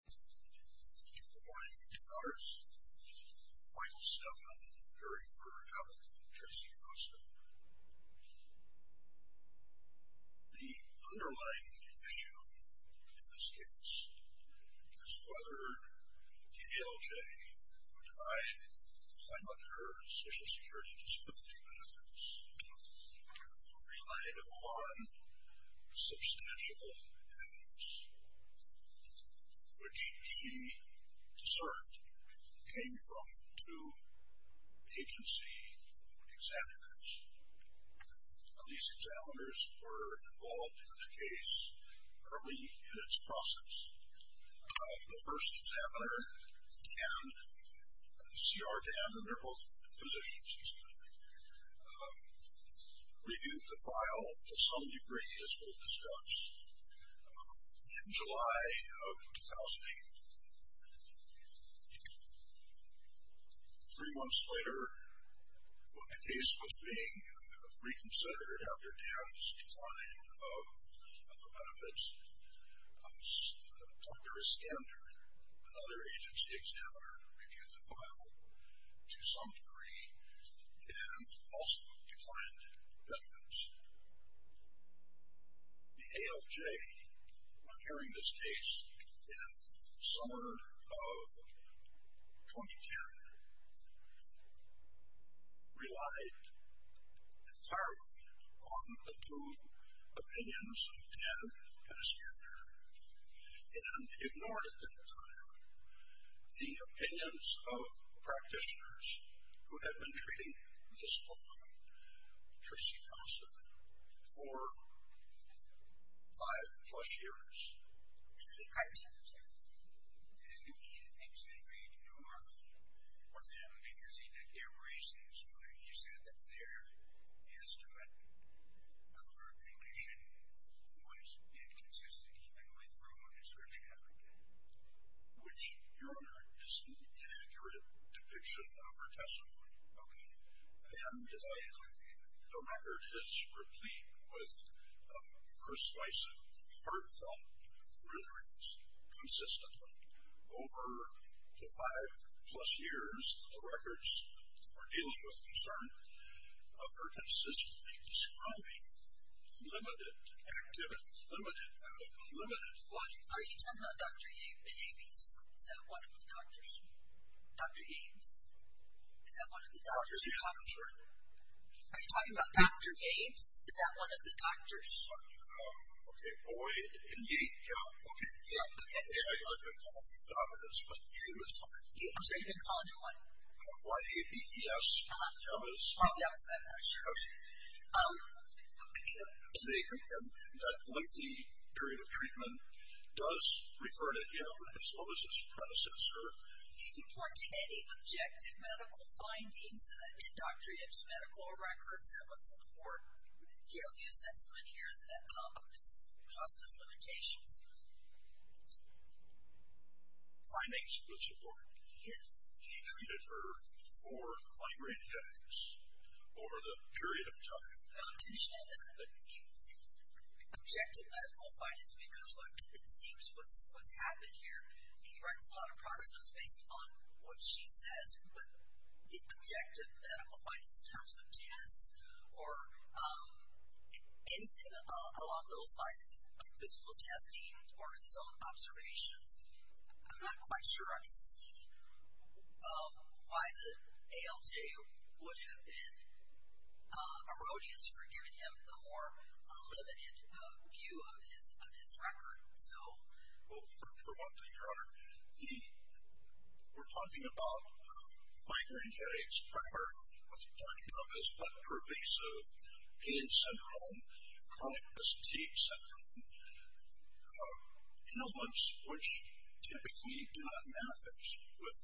Good morning, good afternoon, good evening. Michael Stephan, jury for Apple v. Tracy Costa. The underlying issue in this case is whether DLJ, who denied climate or social security disruptive methods, relied upon substantial evidence, which she asserted came from two agency examiners. These examiners were involved in the case early in its process. The first examiner and CR Dan, and they're both physicians, reviewed the file to some degree, as we'll discuss, in July of 2008. Three months later, when the case was being reconsidered after Dan's decline of the benefits, Dr. Iskander, another agency examiner, reviewed the file to some degree, and also declined the benefits. The ALJ, when hearing this case in the summer of 2010, relied entirely on the two opinions of Dan and Iskander, and ignored at that time the opinions of practitioners who had been treating this woman, Tracy Costa, for five plus years. And he did exactly ignore them, because he did give reasons why he said that their estimate of her condition was inconsistent, and withdrew a discerning evidence. Which, Your Honor, is an inaccurate depiction of her testimony. Okay? And the record is replete with persuasive, hurtful renderings, consistently. Over the five plus years, the records are dealing with concern of her consistently describing limited activity, limited logic. Are you talking about Dr. Yabes? Is that one of the doctors? Dr. Yabes? Is that one of the doctors? Are you talking about Dr. Yabes? Is that one of the doctors? Okay. Boyd and Yates. Yeah. Okay. Yeah. I've been calling them dominance, but Yabes. I'm sorry, you've been calling them what? Y-A-B-E-S. Yabes. Yabes, okay. Okay. And that lengthy period of treatment does refer to him as well as his predecessor. Can you point to any objective medical findings in Dr. Yabes' medical records that would support the assessment here that accomplished the cost of limitations? Findings would support. Yes. He treated her for migraine headaches over the period of time. I didn't mention that, but the objective medical findings, because it seems what's happened here, he writes a lot of progress notes based on what she says, but the objective medical findings in terms of tests or anything along those lines, physical testing or his own observations, I'm not quite sure I see why the ALJ would have been erroneous for giving him the more limited view of his record. So. Well, for one thing, Your Honor, we're talking about migraine headaches, primarily what he's talking about is what pervasive pain syndrome, chronic fatigue syndrome, ailments which typically do not manifest with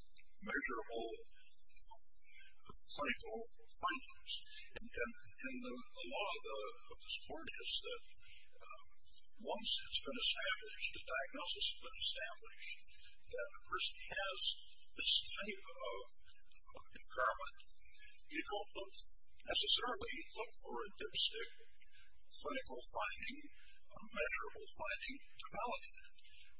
measurable clinical findings. And the law of the sport is that once it's been established, the diagnosis has been established that a person has this type of impairment, you don't necessarily look for a dipstick clinical finding, a measurable finding to validate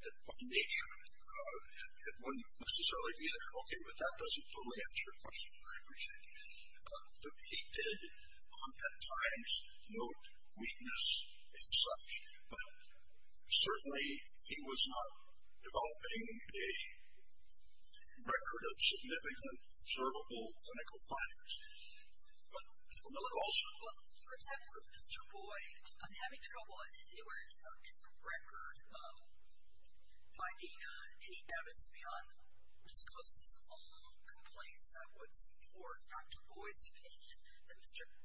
it by nature. It wouldn't necessarily be there. Okay, but that doesn't totally answer your question. I appreciate it. He did at times note weakness and such, but certainly he was not developing a record of significant observable clinical findings. But the legal issue. Well, Your Honor, with Mr. Boyd, I'm having trouble anywhere in the record finding any evidence beyond Ms. Costa's own complaints that would support Dr. Boyd's opinion that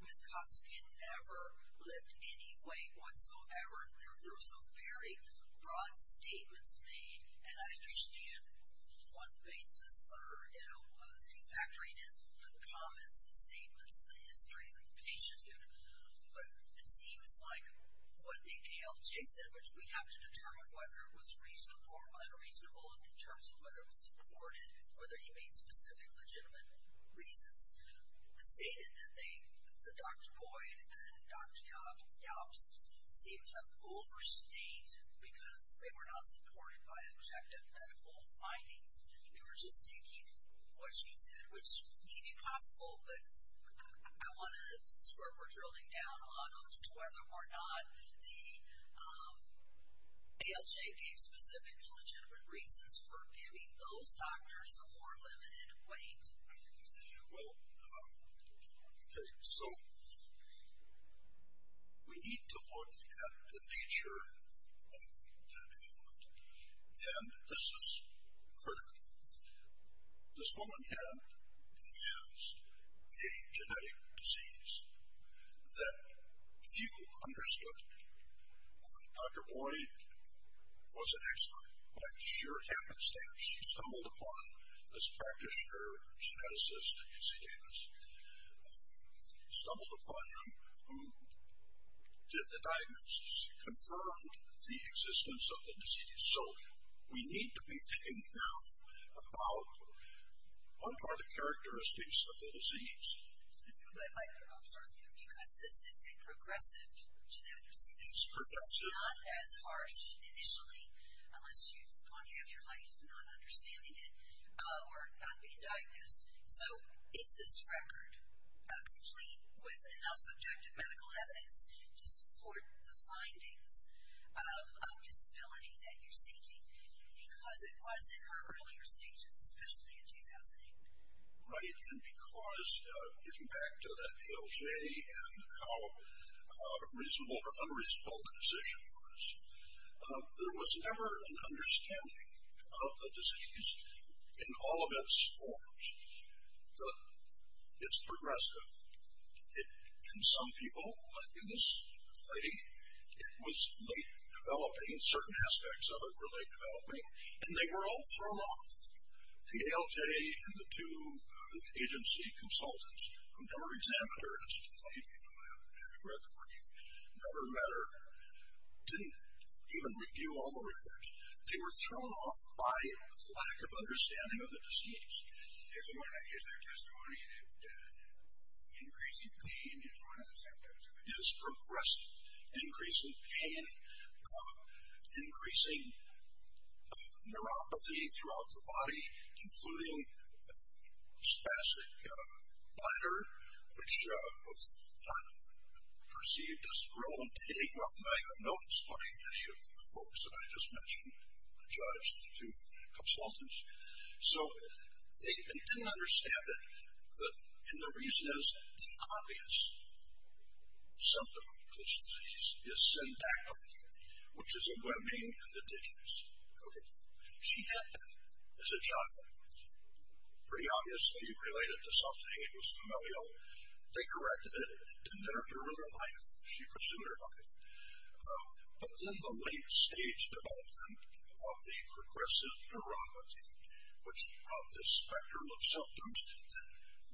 Ms. Costa can never lift any weight whatsoever. There were some very broad statements made, and I understand one basis or, you know, he's factoring in the comments, the statements, the history of the patient. But it seems like what the ALJ said, which we have to determine whether it was reasonable or unreasonable in terms of whether it was supported, whether he made specific legitimate reasons, stated that they, that Dr. Boyd and Dr. Yelps, seemed to overstate because they were not supported by objective medical findings. They were just taking what you said, which may be possible, but I want to, this is where we're drilling down on whether or not the ALJ gave specific legitimate reasons for giving those doctors a more limited weight. Well, okay. So we need to look at the nature of the development, and this is critical. This woman here has a genetic disease that few understood. Dr. Boyd was an expert, but it sure happens that she stumbled upon this practitioner, geneticist, you see Davis, stumbled upon him who did the diagnosis, confirmed the existence of the disease. So we need to be thinking now about what are the characteristics of the disease. I'm sorry, because this is a progressive genetic disease. It's not as harsh initially unless you've gone half your life not understanding it or not being diagnosed. So is this record complete with enough objective medical evidence to support the findings of disability that you're seeking? Because it was in her earlier stages, especially in 2008. Right, and because getting back to that ALJ and how reasonable or unreasonable the decision was, there was never an understanding of the disease in all of its forms. It's progressive. In some people, in this thing, it was late developing. Certain aspects of it were late developing, and they were all thrown off. The ALJ and the two agency consultants, who never examined her, never met her, didn't even review all the records. They were thrown off by a lack of understanding of the disease. If you want to use their testimony, increasing pain is progressive. Including spastic blighter, which was not perceived as relevant to any growth. And I have noticed by any of the folks that I just mentioned, the judge and the two consultants. So they didn't understand it. And the reason is the obvious symptom of this disease is syndactyly, which is a webbing in the digenous. Okay. She had that as a child. Pretty obviously related to something. It was familial. They corrected it. It didn't interfere with her life. She pursued her life. But then the late stage development of the progressive neuropathy, which brought this spectrum of symptoms that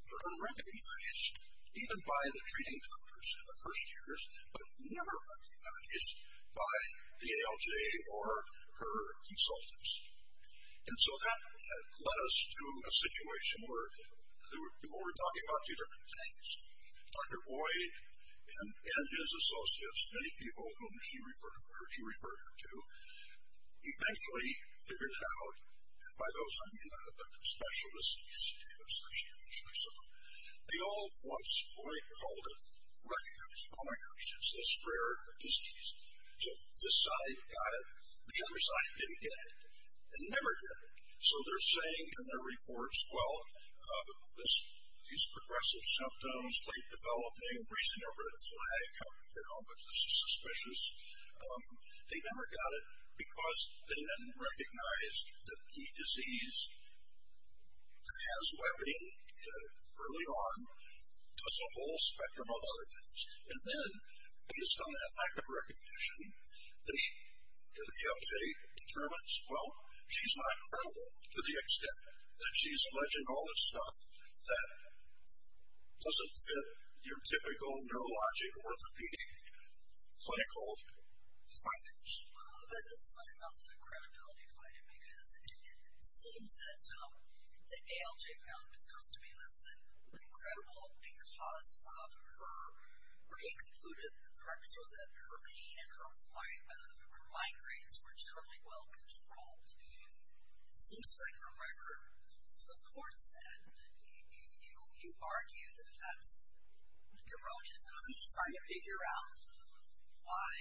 were unrecognized, even by the treating doctors in the first years, but never recognized by the ALJ or her consultants. And so that led us to a situation where we're talking about two different things. Dr. Boyd and his associates, many people whom she referred her to, eventually figured it out. And by those, I mean the specialists, associates or something. They all at one point called it, recognized, oh, my gosh, it's this rare disease. So this side got it. The other side didn't get it. They never get it. So they're saying in their reports, well, these progressive symptoms, late developing, raising their red flag, coming down, but this is suspicious. They never got it because they then recognized that the disease that has webbing early on does a whole spectrum of other things. And then based on that lack of recognition, the ALJ determines, well, she's not credible to the extent that she's alleging all this stuff that doesn't fit your typical neurologic orthopedic psychology. Sorry. But this is one about the credibility fight, because it seems that the ALJ found Ms. Coz to be less than credible because of her, where he concluded that the records show that her vein and her migraines were generally well controlled. It seems like the record supports that. You argue that that's erroneous, and I'm just trying to figure out why,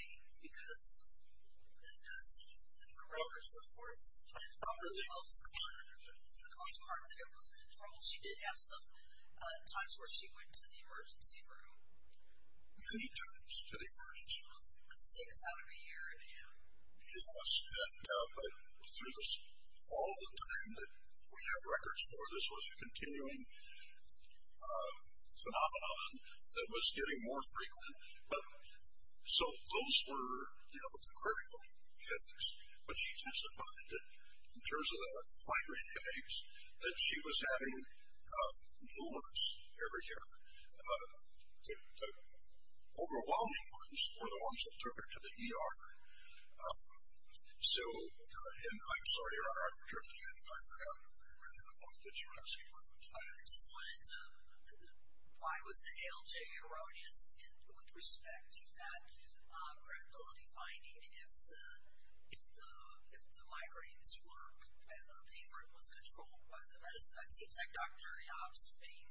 because it does seem that the record supports, not really well supported because of the fact that it was controlled. She did have some times where she went to the emergency room. How many times did she go to the emergency room? Six out of a year. Yes, but through all the time that we have records for, this was a continuing phenomenon that was getting more frequent. So those were the critical headaches. But she testified that in terms of the migraine headaches, that she was having new ones every year. The overwhelming ones were the ones that took her to the ER. So, and I'm sorry, I'm drifting, and I forgot to read the book that you're asking about. I just wanted to, why was the ALJ erroneous with respect to that credibility finding, and if the migraines were, and the pain room was controlled by the medicine, it seems like Dr. Jobs' main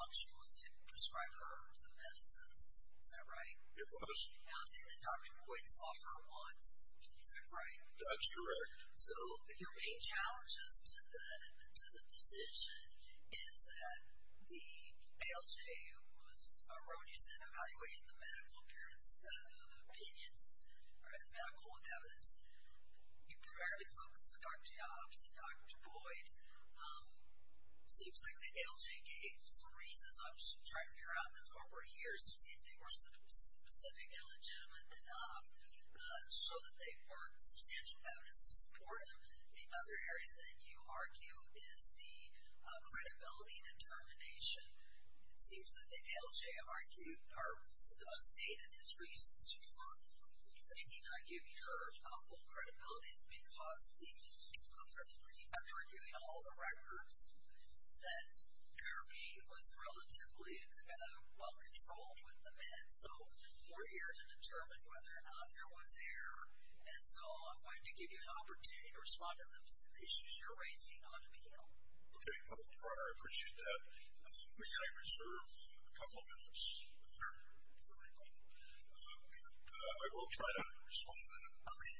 function was to prescribe her the medicines. Is that right? It was. And then Dr. Boyd saw her once. Is that right? That's correct. So your main challenges to the decision is that the ALJ, who was erroneous in evaluating the medical appearance, opinions, or the medical evidence, you primarily focus on Dr. Jobs and Dr. Boyd. It seems like the ALJ gave some reasons, I'm just trying to figure out in the last couple of years, to see if they were specific and legitimate enough to show that they were substantial evidence to support him. The other area that you argue is the credibility determination. It seems that the ALJ argued or stated his reasons for making her give her full credibility is because after reviewing all the records, that therapy was relatively well controlled with the meds. So we're here to determine whether or not there was error, and so I'm going to give you an opportunity to respond to the issues you're raising on the panel. Okay. I appreciate that. May I reserve a couple of minutes for my time? I will try to respond to that. Okay.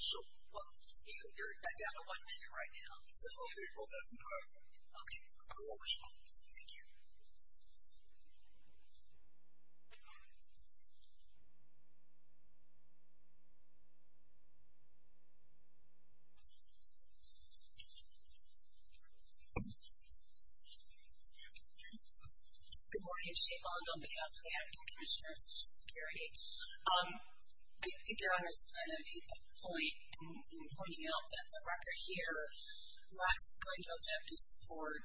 So you're down to one minute right now. Okay, well that's not a problem. I will respond. Thank you. Good morning. My name is Shane Mondo, and I'm the Advocate Commissioner of Social Security. I think Your Honors kind of hit the point in pointing out that the record here lacks the kind of objective support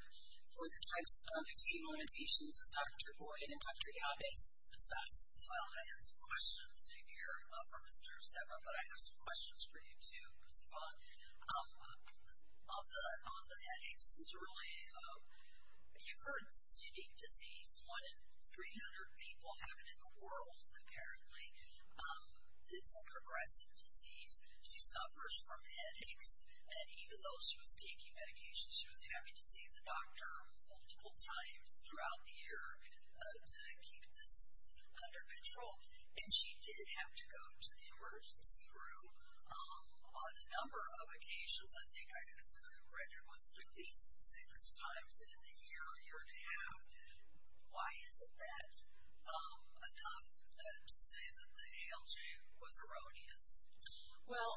for the types of extreme limitations that Dr. Boyd and Dr. Yabe assess. Well, I have some questions in here for Mr. Sebra, but I have some questions for you too, Ms. Vaughn. On the headaches, this is really, you've heard this unique disease, one in 300 people have it in the world, apparently. It's a progressive disease. She suffers from headaches, and even though she was taking medication, she was having to see the doctor multiple times throughout the year to keep this under control. And she did have to go to the emergency room on a number of occasions. I think I read it was at least six times in a year, a year and a half. Why isn't that enough to say that the ALJ was erroneous? Well,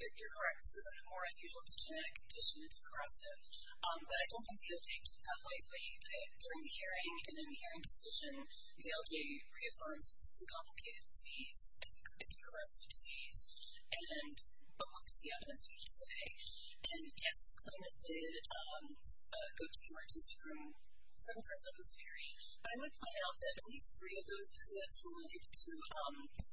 you're correct. This is more unusual. It's a genetic condition. It's progressive. But I don't think the update can come lately. During the hearing and in the hearing position, the ALJ reaffirms that this is a complicated disease. It's a progressive disease. But what does the update say? And, yes, the claimant did go to the emergency room several times over this period. But I would point out that at least three of those visits related to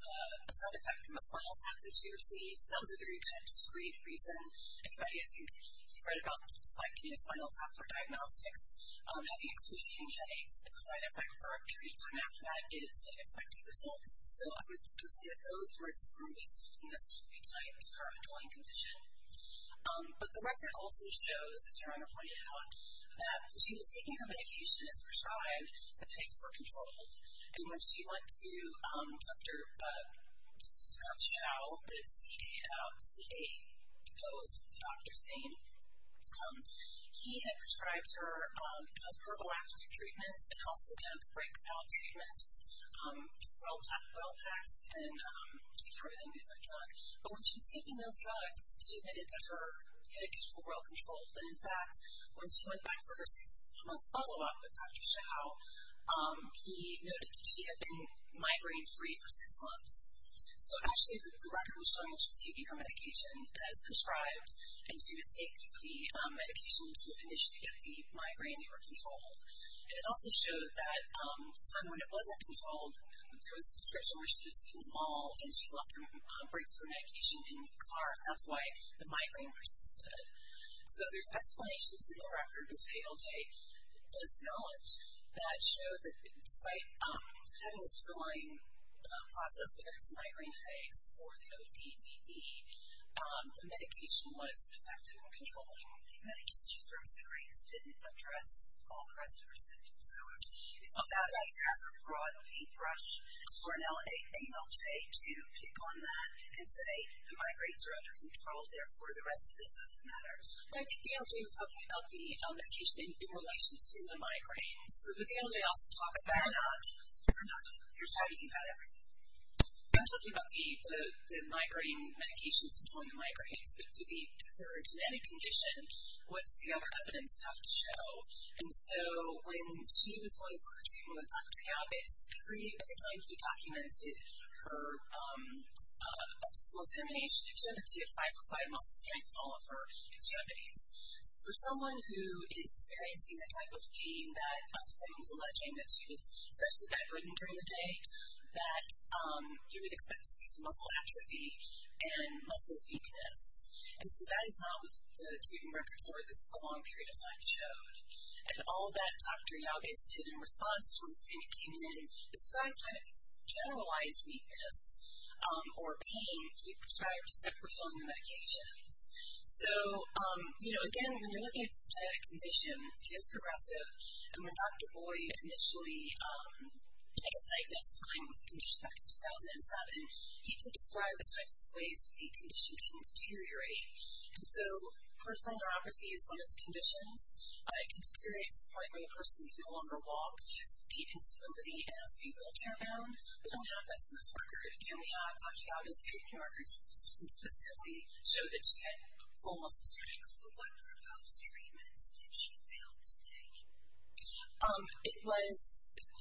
a side effect from a spinal tap that she received. That was a very kind of discreet reason. Anybody, I think, if you've read about spiking a spinal tap for diagnostics, having excruciating headaches, it's a side effect for a period of time after that is an expected result. So, I would say that those were some of the reasons why this would be tied to her underlying condition. But the record also shows, as you're right on the point, that when she was taking her medication as prescribed, the headaches were controlled. And when she went to Dr. Chao, but it's C-A-O, C-A-O is the doctor's name, he had prescribed her pergolactic treatments and also kind of break out treatments. Oil packs and he threw them in with her drug. But when she was taking those drugs, she admitted that her headaches were well controlled. And, in fact, when she went back for her six-month follow-up with Dr. Chao, he noted that she had been migraine-free for six months. So, actually, the record was showing that she was taking her medication as prescribed, and she would take the medication and she would initially get the migraine that were controlled. And it also showed that at the time when it wasn't controlled, there was a description where she was in the mall and she left her breakthrough medication in the car. That's why the migraine persisted. So there's explanations in the record, which ALJ does acknowledge, that show that despite having this underlying process, whether it's migraine headaches or the ODDD, the medication was effective in controlling it. I just want to confirm, so Grace didn't address all the rest of her symptoms, so is that a broad paintbrush for an ALJ to pick on that and say, the migraines are under control, therefore the rest of this doesn't matter? I think the ALJ was talking about the medication in relation to the migraines. But the ALJ also talks about... But they're not. They're not. You're talking about everything. I'm talking about the migraine medications controlling the migraines, but for any condition, what's the other evidence have to show? And so when she was going for her treatment with Dr. Jabez, every time he documented her physical examination, he showed that she had five or five muscle strains in all of her extremities. So for someone who is experiencing the type of pain that Dr. Fleming was alleging, that she was especially vibrating during the day, that you would expect to see some muscle atrophy and muscle weakness. And so that is not what the treatment records over this long period of time showed. And all that Dr. Jabez did in response to when the payment came in described kind of this generalized weakness or pain. He prescribed a step for filling the medications. So, you know, again, when you're looking at a condition, he is progressive. And when Dr. Boyd initially, I guess, diagnosed the claim with the condition back in 2007, he did describe the types of ways that the condition can deteriorate. And so peripheral neuropathy is one of the conditions. It can deteriorate to the point where the person can no longer walk. He has feet instability and has feet wheelchair bound. We don't have this in this record. And we have Dr. Jabez' treatment records which consistently show that she had full muscle strains. But what for those treatments did she fail to take? It was,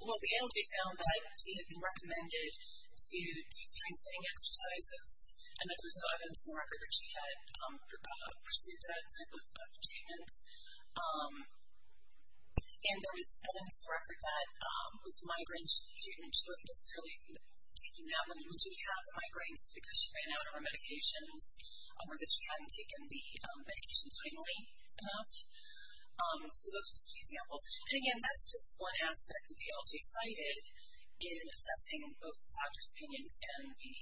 well, the ALJ found that she had been recommended to do strengthening exercises, and that there was no evidence in the record that she had pursued that type of treatment. And there was evidence in the record that with the migraine treatment, she wasn't necessarily taking that when she did have the migraines. It's because she ran out of her medications or that she hadn't taken the medication timely enough. So those are just a few examples. And, again, that's just one aspect of the ALJ cited in assessing both the doctor's opinions and the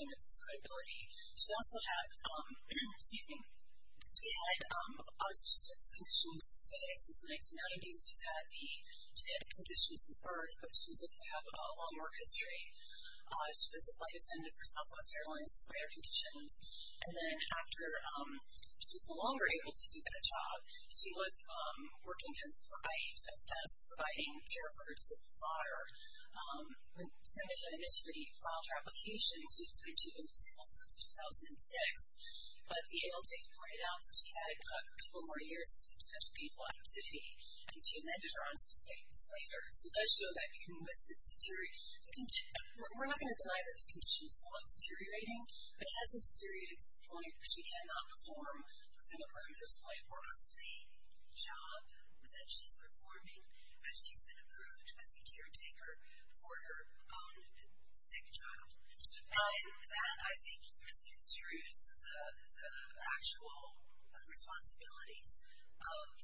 clinic's credibility. She also had conditions since 1990. She's had the genetic conditions since birth, but she doesn't have a long work history. She was a flight attendant for Southwest Airlines, so air conditions. And then after she was no longer able to do that job, she was working as providing care for her disabled daughter. When the clinic initially filed her application, she was going to be disabled until 2006. But the ALJ pointed out that she had a couple more years of substantial people activity, and she amended her on some things later. So it does show that even with this deterioration, we're not going to deny that the condition is somewhat deteriorating, but it hasn't deteriorated to the point where she cannot perform the job that she's performing as she's been approved as a caretaker for her own sick child. And that, I think, misconstrues the actual responsibilities of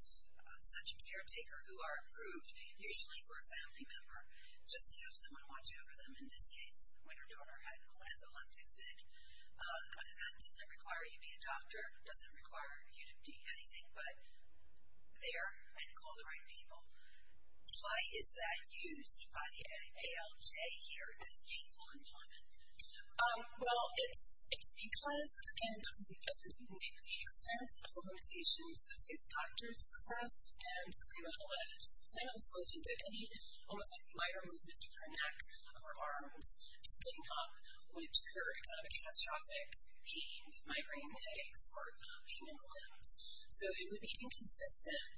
such a caretaker who are approved usually for a family member. Just to have someone watch over them, in this case, when her daughter had a left hip fit, does that require you be a doctor? It doesn't require you to be anything but there and call the right people. Why is that used by the ALJ here as gainful employment? Well, it's because, again, it's because of the extent of the limitations that the doctors assessed and claimant alleged. And it was alleged that any almost like minor movement of her neck or arms, just getting up, would trigger kind of a catastrophic pain, migraine headaches, or pain in the limbs. So it would be inconsistent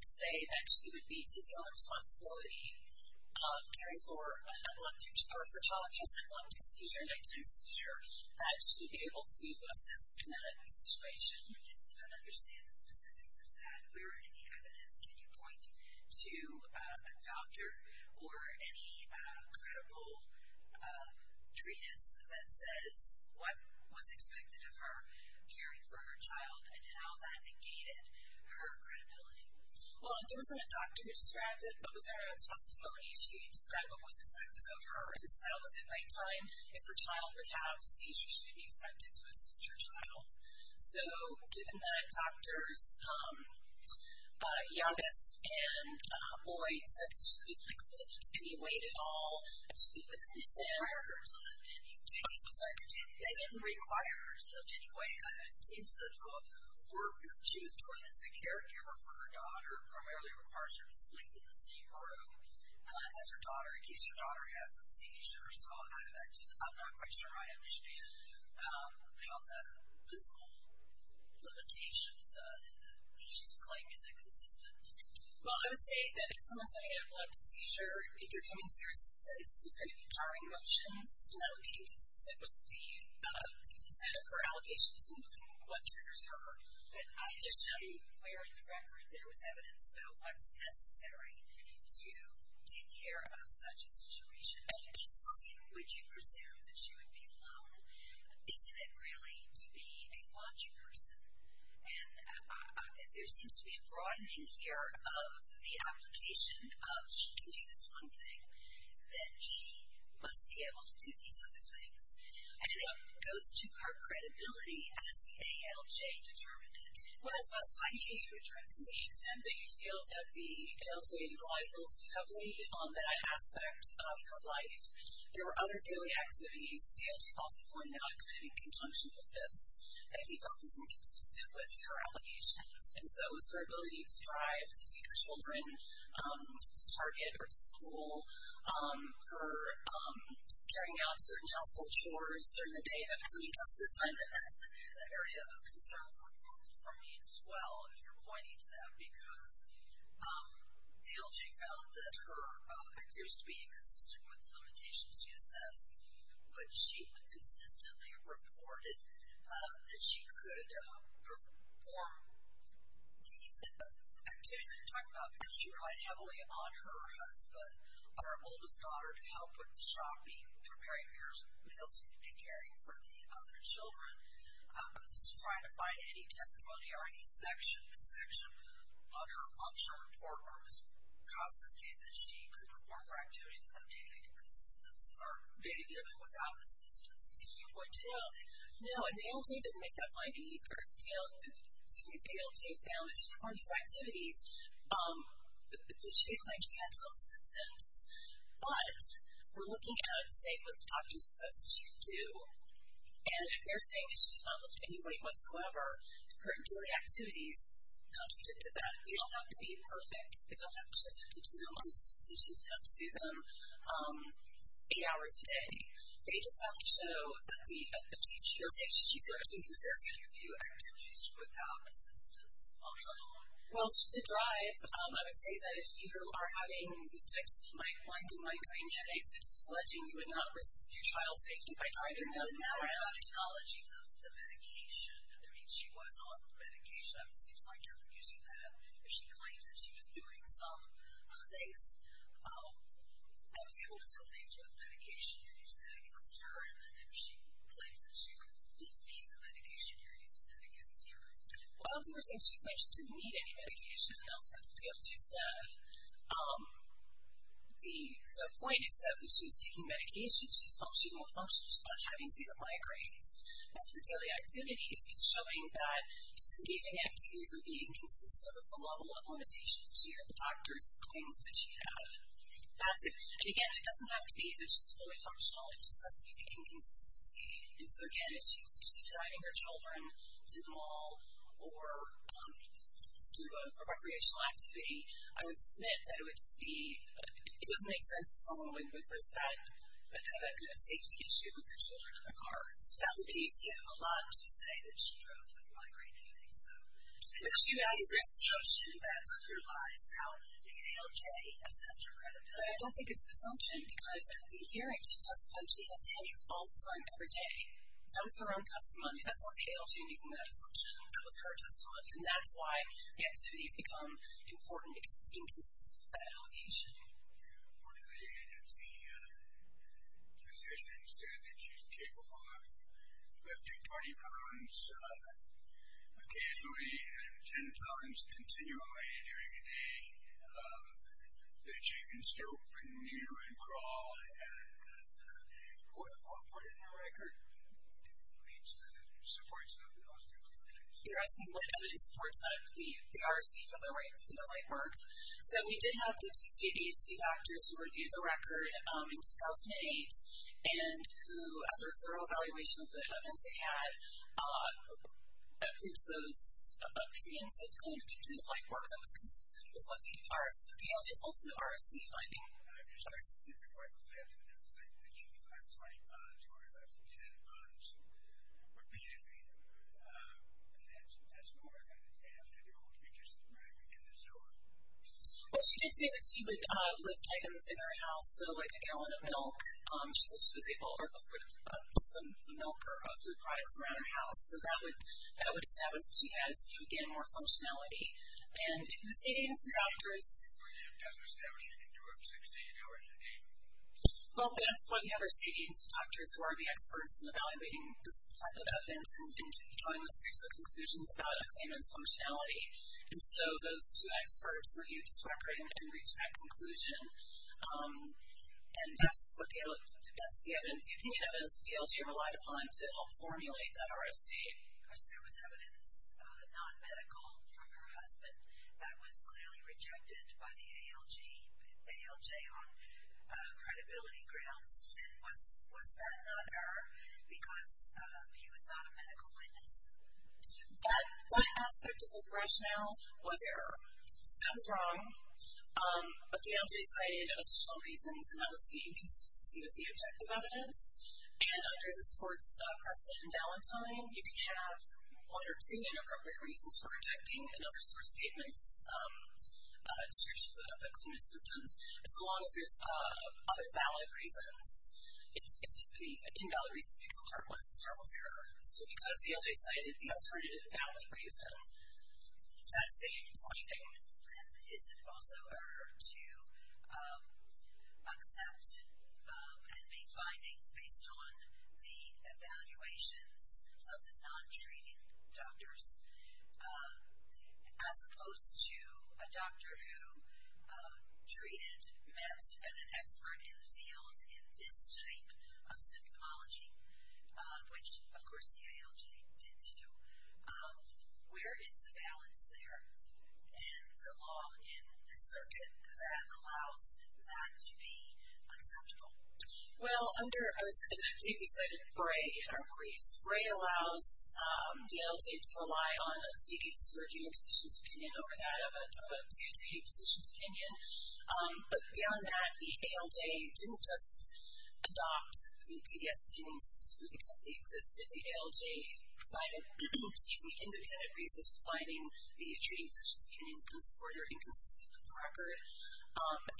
to say that she would be to deal with the responsibility of caring for a child who has an epileptic seizure, a nighttime seizure, that she would be able to assist in that situation. I guess we don't understand the specifics of that. Can you point to a doctor or any credible treatise that says what was expected of her caring for her child and how that negated her credibility? Well, there wasn't a doctor who described it. But with her testimony, she described what was expected of her. And so that was at nighttime. If her child would have a seizure, she would be expected to assist her child. So given that doctors, Yavis and Lloyd, said that she couldn't, like, lift any weight at all, they didn't require her to lift any weight. They didn't require her to lift any weight. It seems that what she was doing as the caregiver for her daughter primarily requires her to sleep in the same room as her daughter in case her daughter has a seizure. I'm not quite sure I understand how the physical limitations in the patient's claim isn't consistent. Well, I would say that if someone's having an epileptic seizure, if they're coming to their assistance, there's going to be jarring motions, and that would be inconsistent with the set of her allegations and what triggers her. I just don't know where in the record there was evidence about what's necessary to take care of such a situation. Yavis, would you presume that she would be alone? Isn't it really to be a watch person? And there seems to be a broadening here of the application of she can do this one thing, then she must be able to do these other things. And it goes to her credibility as the ALJ determined it. Well, that's what's funny. I think you're trying to be exempt, but you feel that the ALJ relied relatively heavily on that aspect of her life. There were other daily activities. The ALJ also pointed out it could have been in conjunction with this. They'd be inconsistent with her allegations. And so it was her ability to drive, to take her children to Target or to the pool, her carrying out certain household chores during the day that was inconsistent, So I'm going to extend into that area of concern for me as well, if you're pointing to that, because the ALJ found that her activities were inconsistent with the limitations she assessed, but she consistently reported that she could perform these activities. I'm talking about that she relied heavily on her husband, on her oldest daughter, to help with shopping, preparing meals, and caring for the other children, to try to find any testimony or any section on her function, or Ms. Costa stated that she could perform her activities of daily assistance or maybe even without assistance. Do you point to that? No. No, and the ALJ didn't make that finding either. The ALJ found that she performed these activities. She claimed she had some assistance. But we're looking at, say, what the doctor says that she could do, and if they're saying that she's not lifting any weight whatsoever, her daily activities come to that. They don't have to be perfect. They don't have to just have to do them on the system. She doesn't have to do them eight hours a day. They just have to show that the activities she takes, she's doing is inconsistent. How do you view activities without assistance on her own? Well, to drive, I would say that if you are having these types of mind-to-mind brain headaches, it's just alleging you would not risk your child's safety by driving them around. It doesn't matter about acknowledging the medication. I mean, she was on medication. It seems like you're using that. If she claims that she was doing some things, I was able to tell things with medication, you're using that against her. And then if she claims that she would not be on the medication, you're using that against her. Well, if you were saying she claims she didn't need any medication, I don't think that's what you'd be able to use that. The point is that when she was taking medication, she's functional. She's not having any of the migraines. As for daily activities, it's showing that she's engaging in activities that are inconsistent with the level of limitations that she or the doctors claimed that she had. That's it. And, again, it doesn't have to be that she's fully functional. It just has to be the inconsistency. And so, again, if she's driving her children to the mall or to do a recreational activity, I would submit that it would just be – it doesn't make sense that someone would put that kind of safety issue with their children in their cars. That would be a lot to say that she drove with migraine headaches. But she values her safety. And that's an assumption that clarifies how the ALJ assessed her credibility. But I don't think it's an assumption because, at the hearing, she testified she has headaches all the time, every day. That was her own testimony. That's not the ALJ making that assumption. That was her testimony. And that's why the activities become important, because it's inconsistent with that allegation. One of the agency physicians said that she's capable of lifting 20 pounds occasionally and 10 pounds continually during a day. That she can stoop and kneel and crawl. And what part in the record supports those new clinics? You're asking what evidence supports the RFC from the whiteboard. So we did have the PCA agency doctors who reviewed the record in 2008 and who, after a thorough evaluation of the evidence they had, approved those opinions of the clinicians. And the whiteboard that was consistent with what the RFC, but the ALJ is also the RFC finding. I'm just asking specifically, is there any evidence that she can lift 20 pounds or lift 10 pounds repeatedly? And that's more than it has to do with her just regularly doing so? Well, she did say that she would lift items in her house. So, like, a gallon of milk. She said she was able to put a milker of food products around her house. So that would establish that she has, again, more functionality. And the CTA agency doctors. Does it establish that you can do RFCs to eat hours a day? Well, that's what we have our CTA agency doctors, who are the experts in evaluating this type of evidence and drawing a series of conclusions about a claimant's functionality. And so those two experts reviewed this record and reached that conclusion. And that's the opinion evidence that the ALJ relied upon to help formulate that RFC. There was evidence, non-medical, from her husband that was clearly rejected by the ALJ on credibility grounds. And was that not error because he was not a medical witness? That aspect of the rationale was error. So that was wrong. But the ALJ cited additional reasons, and that was the inconsistency with the objective evidence. And under the sports precedent in Ballantyne, you can have one or two inappropriate reasons for rejecting another source statement's description of the claimant's symptoms. As long as there's other valid reasons, it's the invalid reason because it was her husband's error. So because the ALJ cited the alternative valid reason, that same finding. And is it also error to accept and make findings based on the evaluations of the non-treating doctors as opposed to a doctor who treated, met, and an expert in the field in this type of symptomology, which, of course, the ALJ did too? Where is the balance there? And the law in the circuit that allows that to be acceptable? Well, under, I would say, they've cited Bray in our briefs. Bray allows the ALJ to rely on a CDC's working positions opinion over that of a DOJ positions opinion. But beyond that, the ALJ didn't just adopt the DDS opinions simply because they existed. The ALJ provided independent reasons for finding the treating positions opinions unsupported or inconsistent with the record.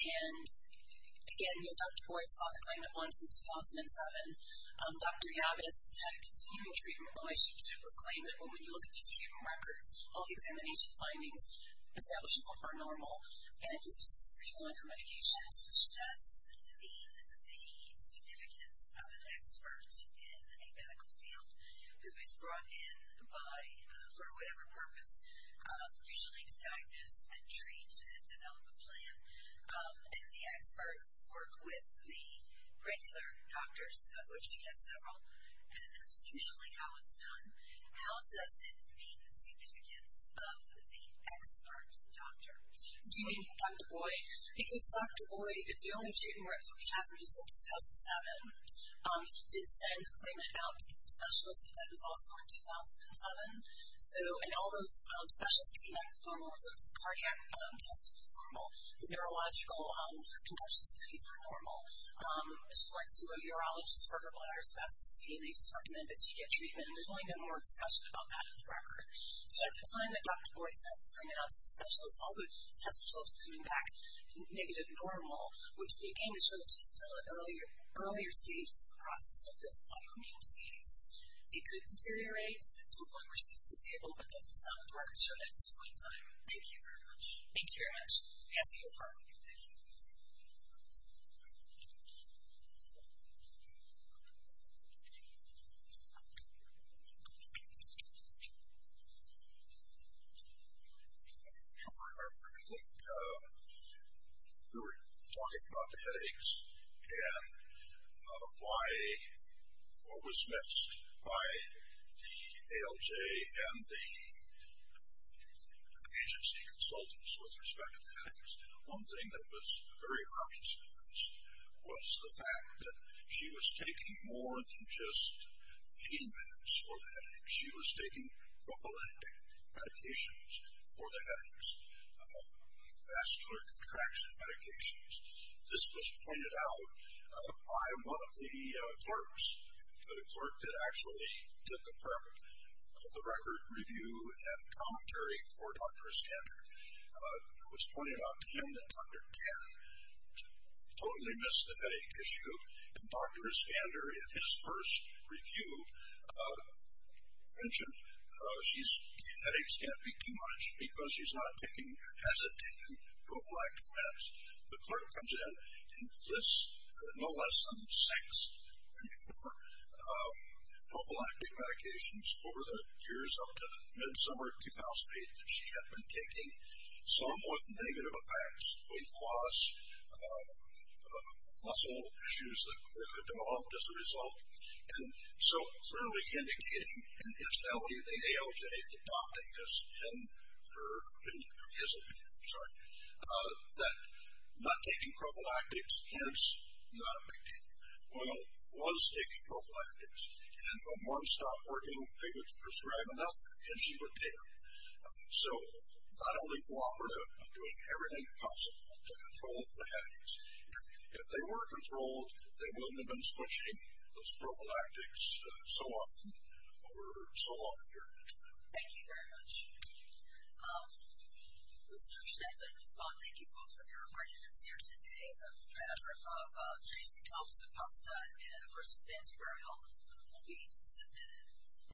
And, again, Dr. Boyd saw the claimant once in 2007. Dr. Yavis had a continuing treatment voice. She was able to claim that, well, when you look at these treatment records, all the examination findings establishable are normal. And just briefly on her medications, which does mean the significance of an expert in a medical field who is brought in for whatever purpose, usually to diagnose and treat and develop a plan. And the experts work with the regular doctors, of which she had several. And that's usually how it's done. How does it mean the significance of the expert doctor? Do you mean Dr. Boyd? Because Dr. Boyd, the only treatment record he has remains in 2007. He did send the claimant out to some specialists, but that was also in 2007. So in all those specialists who came back with normal results, the cardiac test was normal. Neurological, their concussion studies were normal. She went to a urologist for her bladder spasticity, and they just recommended she get treatment. And there's really no more discussion about that in the record. So at the time that Dr. Boyd sent the claimant out to the specialists, all the test results were coming back negative normal, which again would show that she's still at earlier stages of the process of this autoimmune disease. It could deteriorate to a point where she's disabled, but that's just not what the record showed at this point in time. Thank you very much. Thank you very much. Cassie, you're first. Sure. I think we were talking about the headaches and why what was missed by the ALJ and the agency consultants with respect to the headaches. One thing that was very obviously missed was the fact that she was taking more than just pain meds for the headaches. She was taking prophylactic medications for the headaches, vascular contraction medications. This was pointed out by one of the clerks, the clerk that actually did the record review and commentary for Dr. Iskander. It was pointed out to him that Dr. Tan totally missed the headache issue, and Dr. Iskander in his first review mentioned headaches can't be too much because she's not taking, hasn't taken prophylactic meds. The clerk comes in and lists no less than six or more prophylactic medications over the years up to mid-summer 2008 that she had been taking, some with negative effects, with loss, muscle issues that were developed as a result. And so clearly indicating in his belly, the ALJ adopting this, that not taking prophylactics, hence not a big deal. Well, was taking prophylactics. And from one stop working, they would prescribe enough and she would take them. So not only cooperative, doing everything possible to control the headaches. If they were controlled, they wouldn't have been switching those prophylactics so often over so long a period of time. Thank you very much. Mr. Schneckle and Ms. Vaughn, thank you both for your remarks. And it's here today that the paper of Tracy Thompson-Costa and of course Nancy Burrell will be submitted.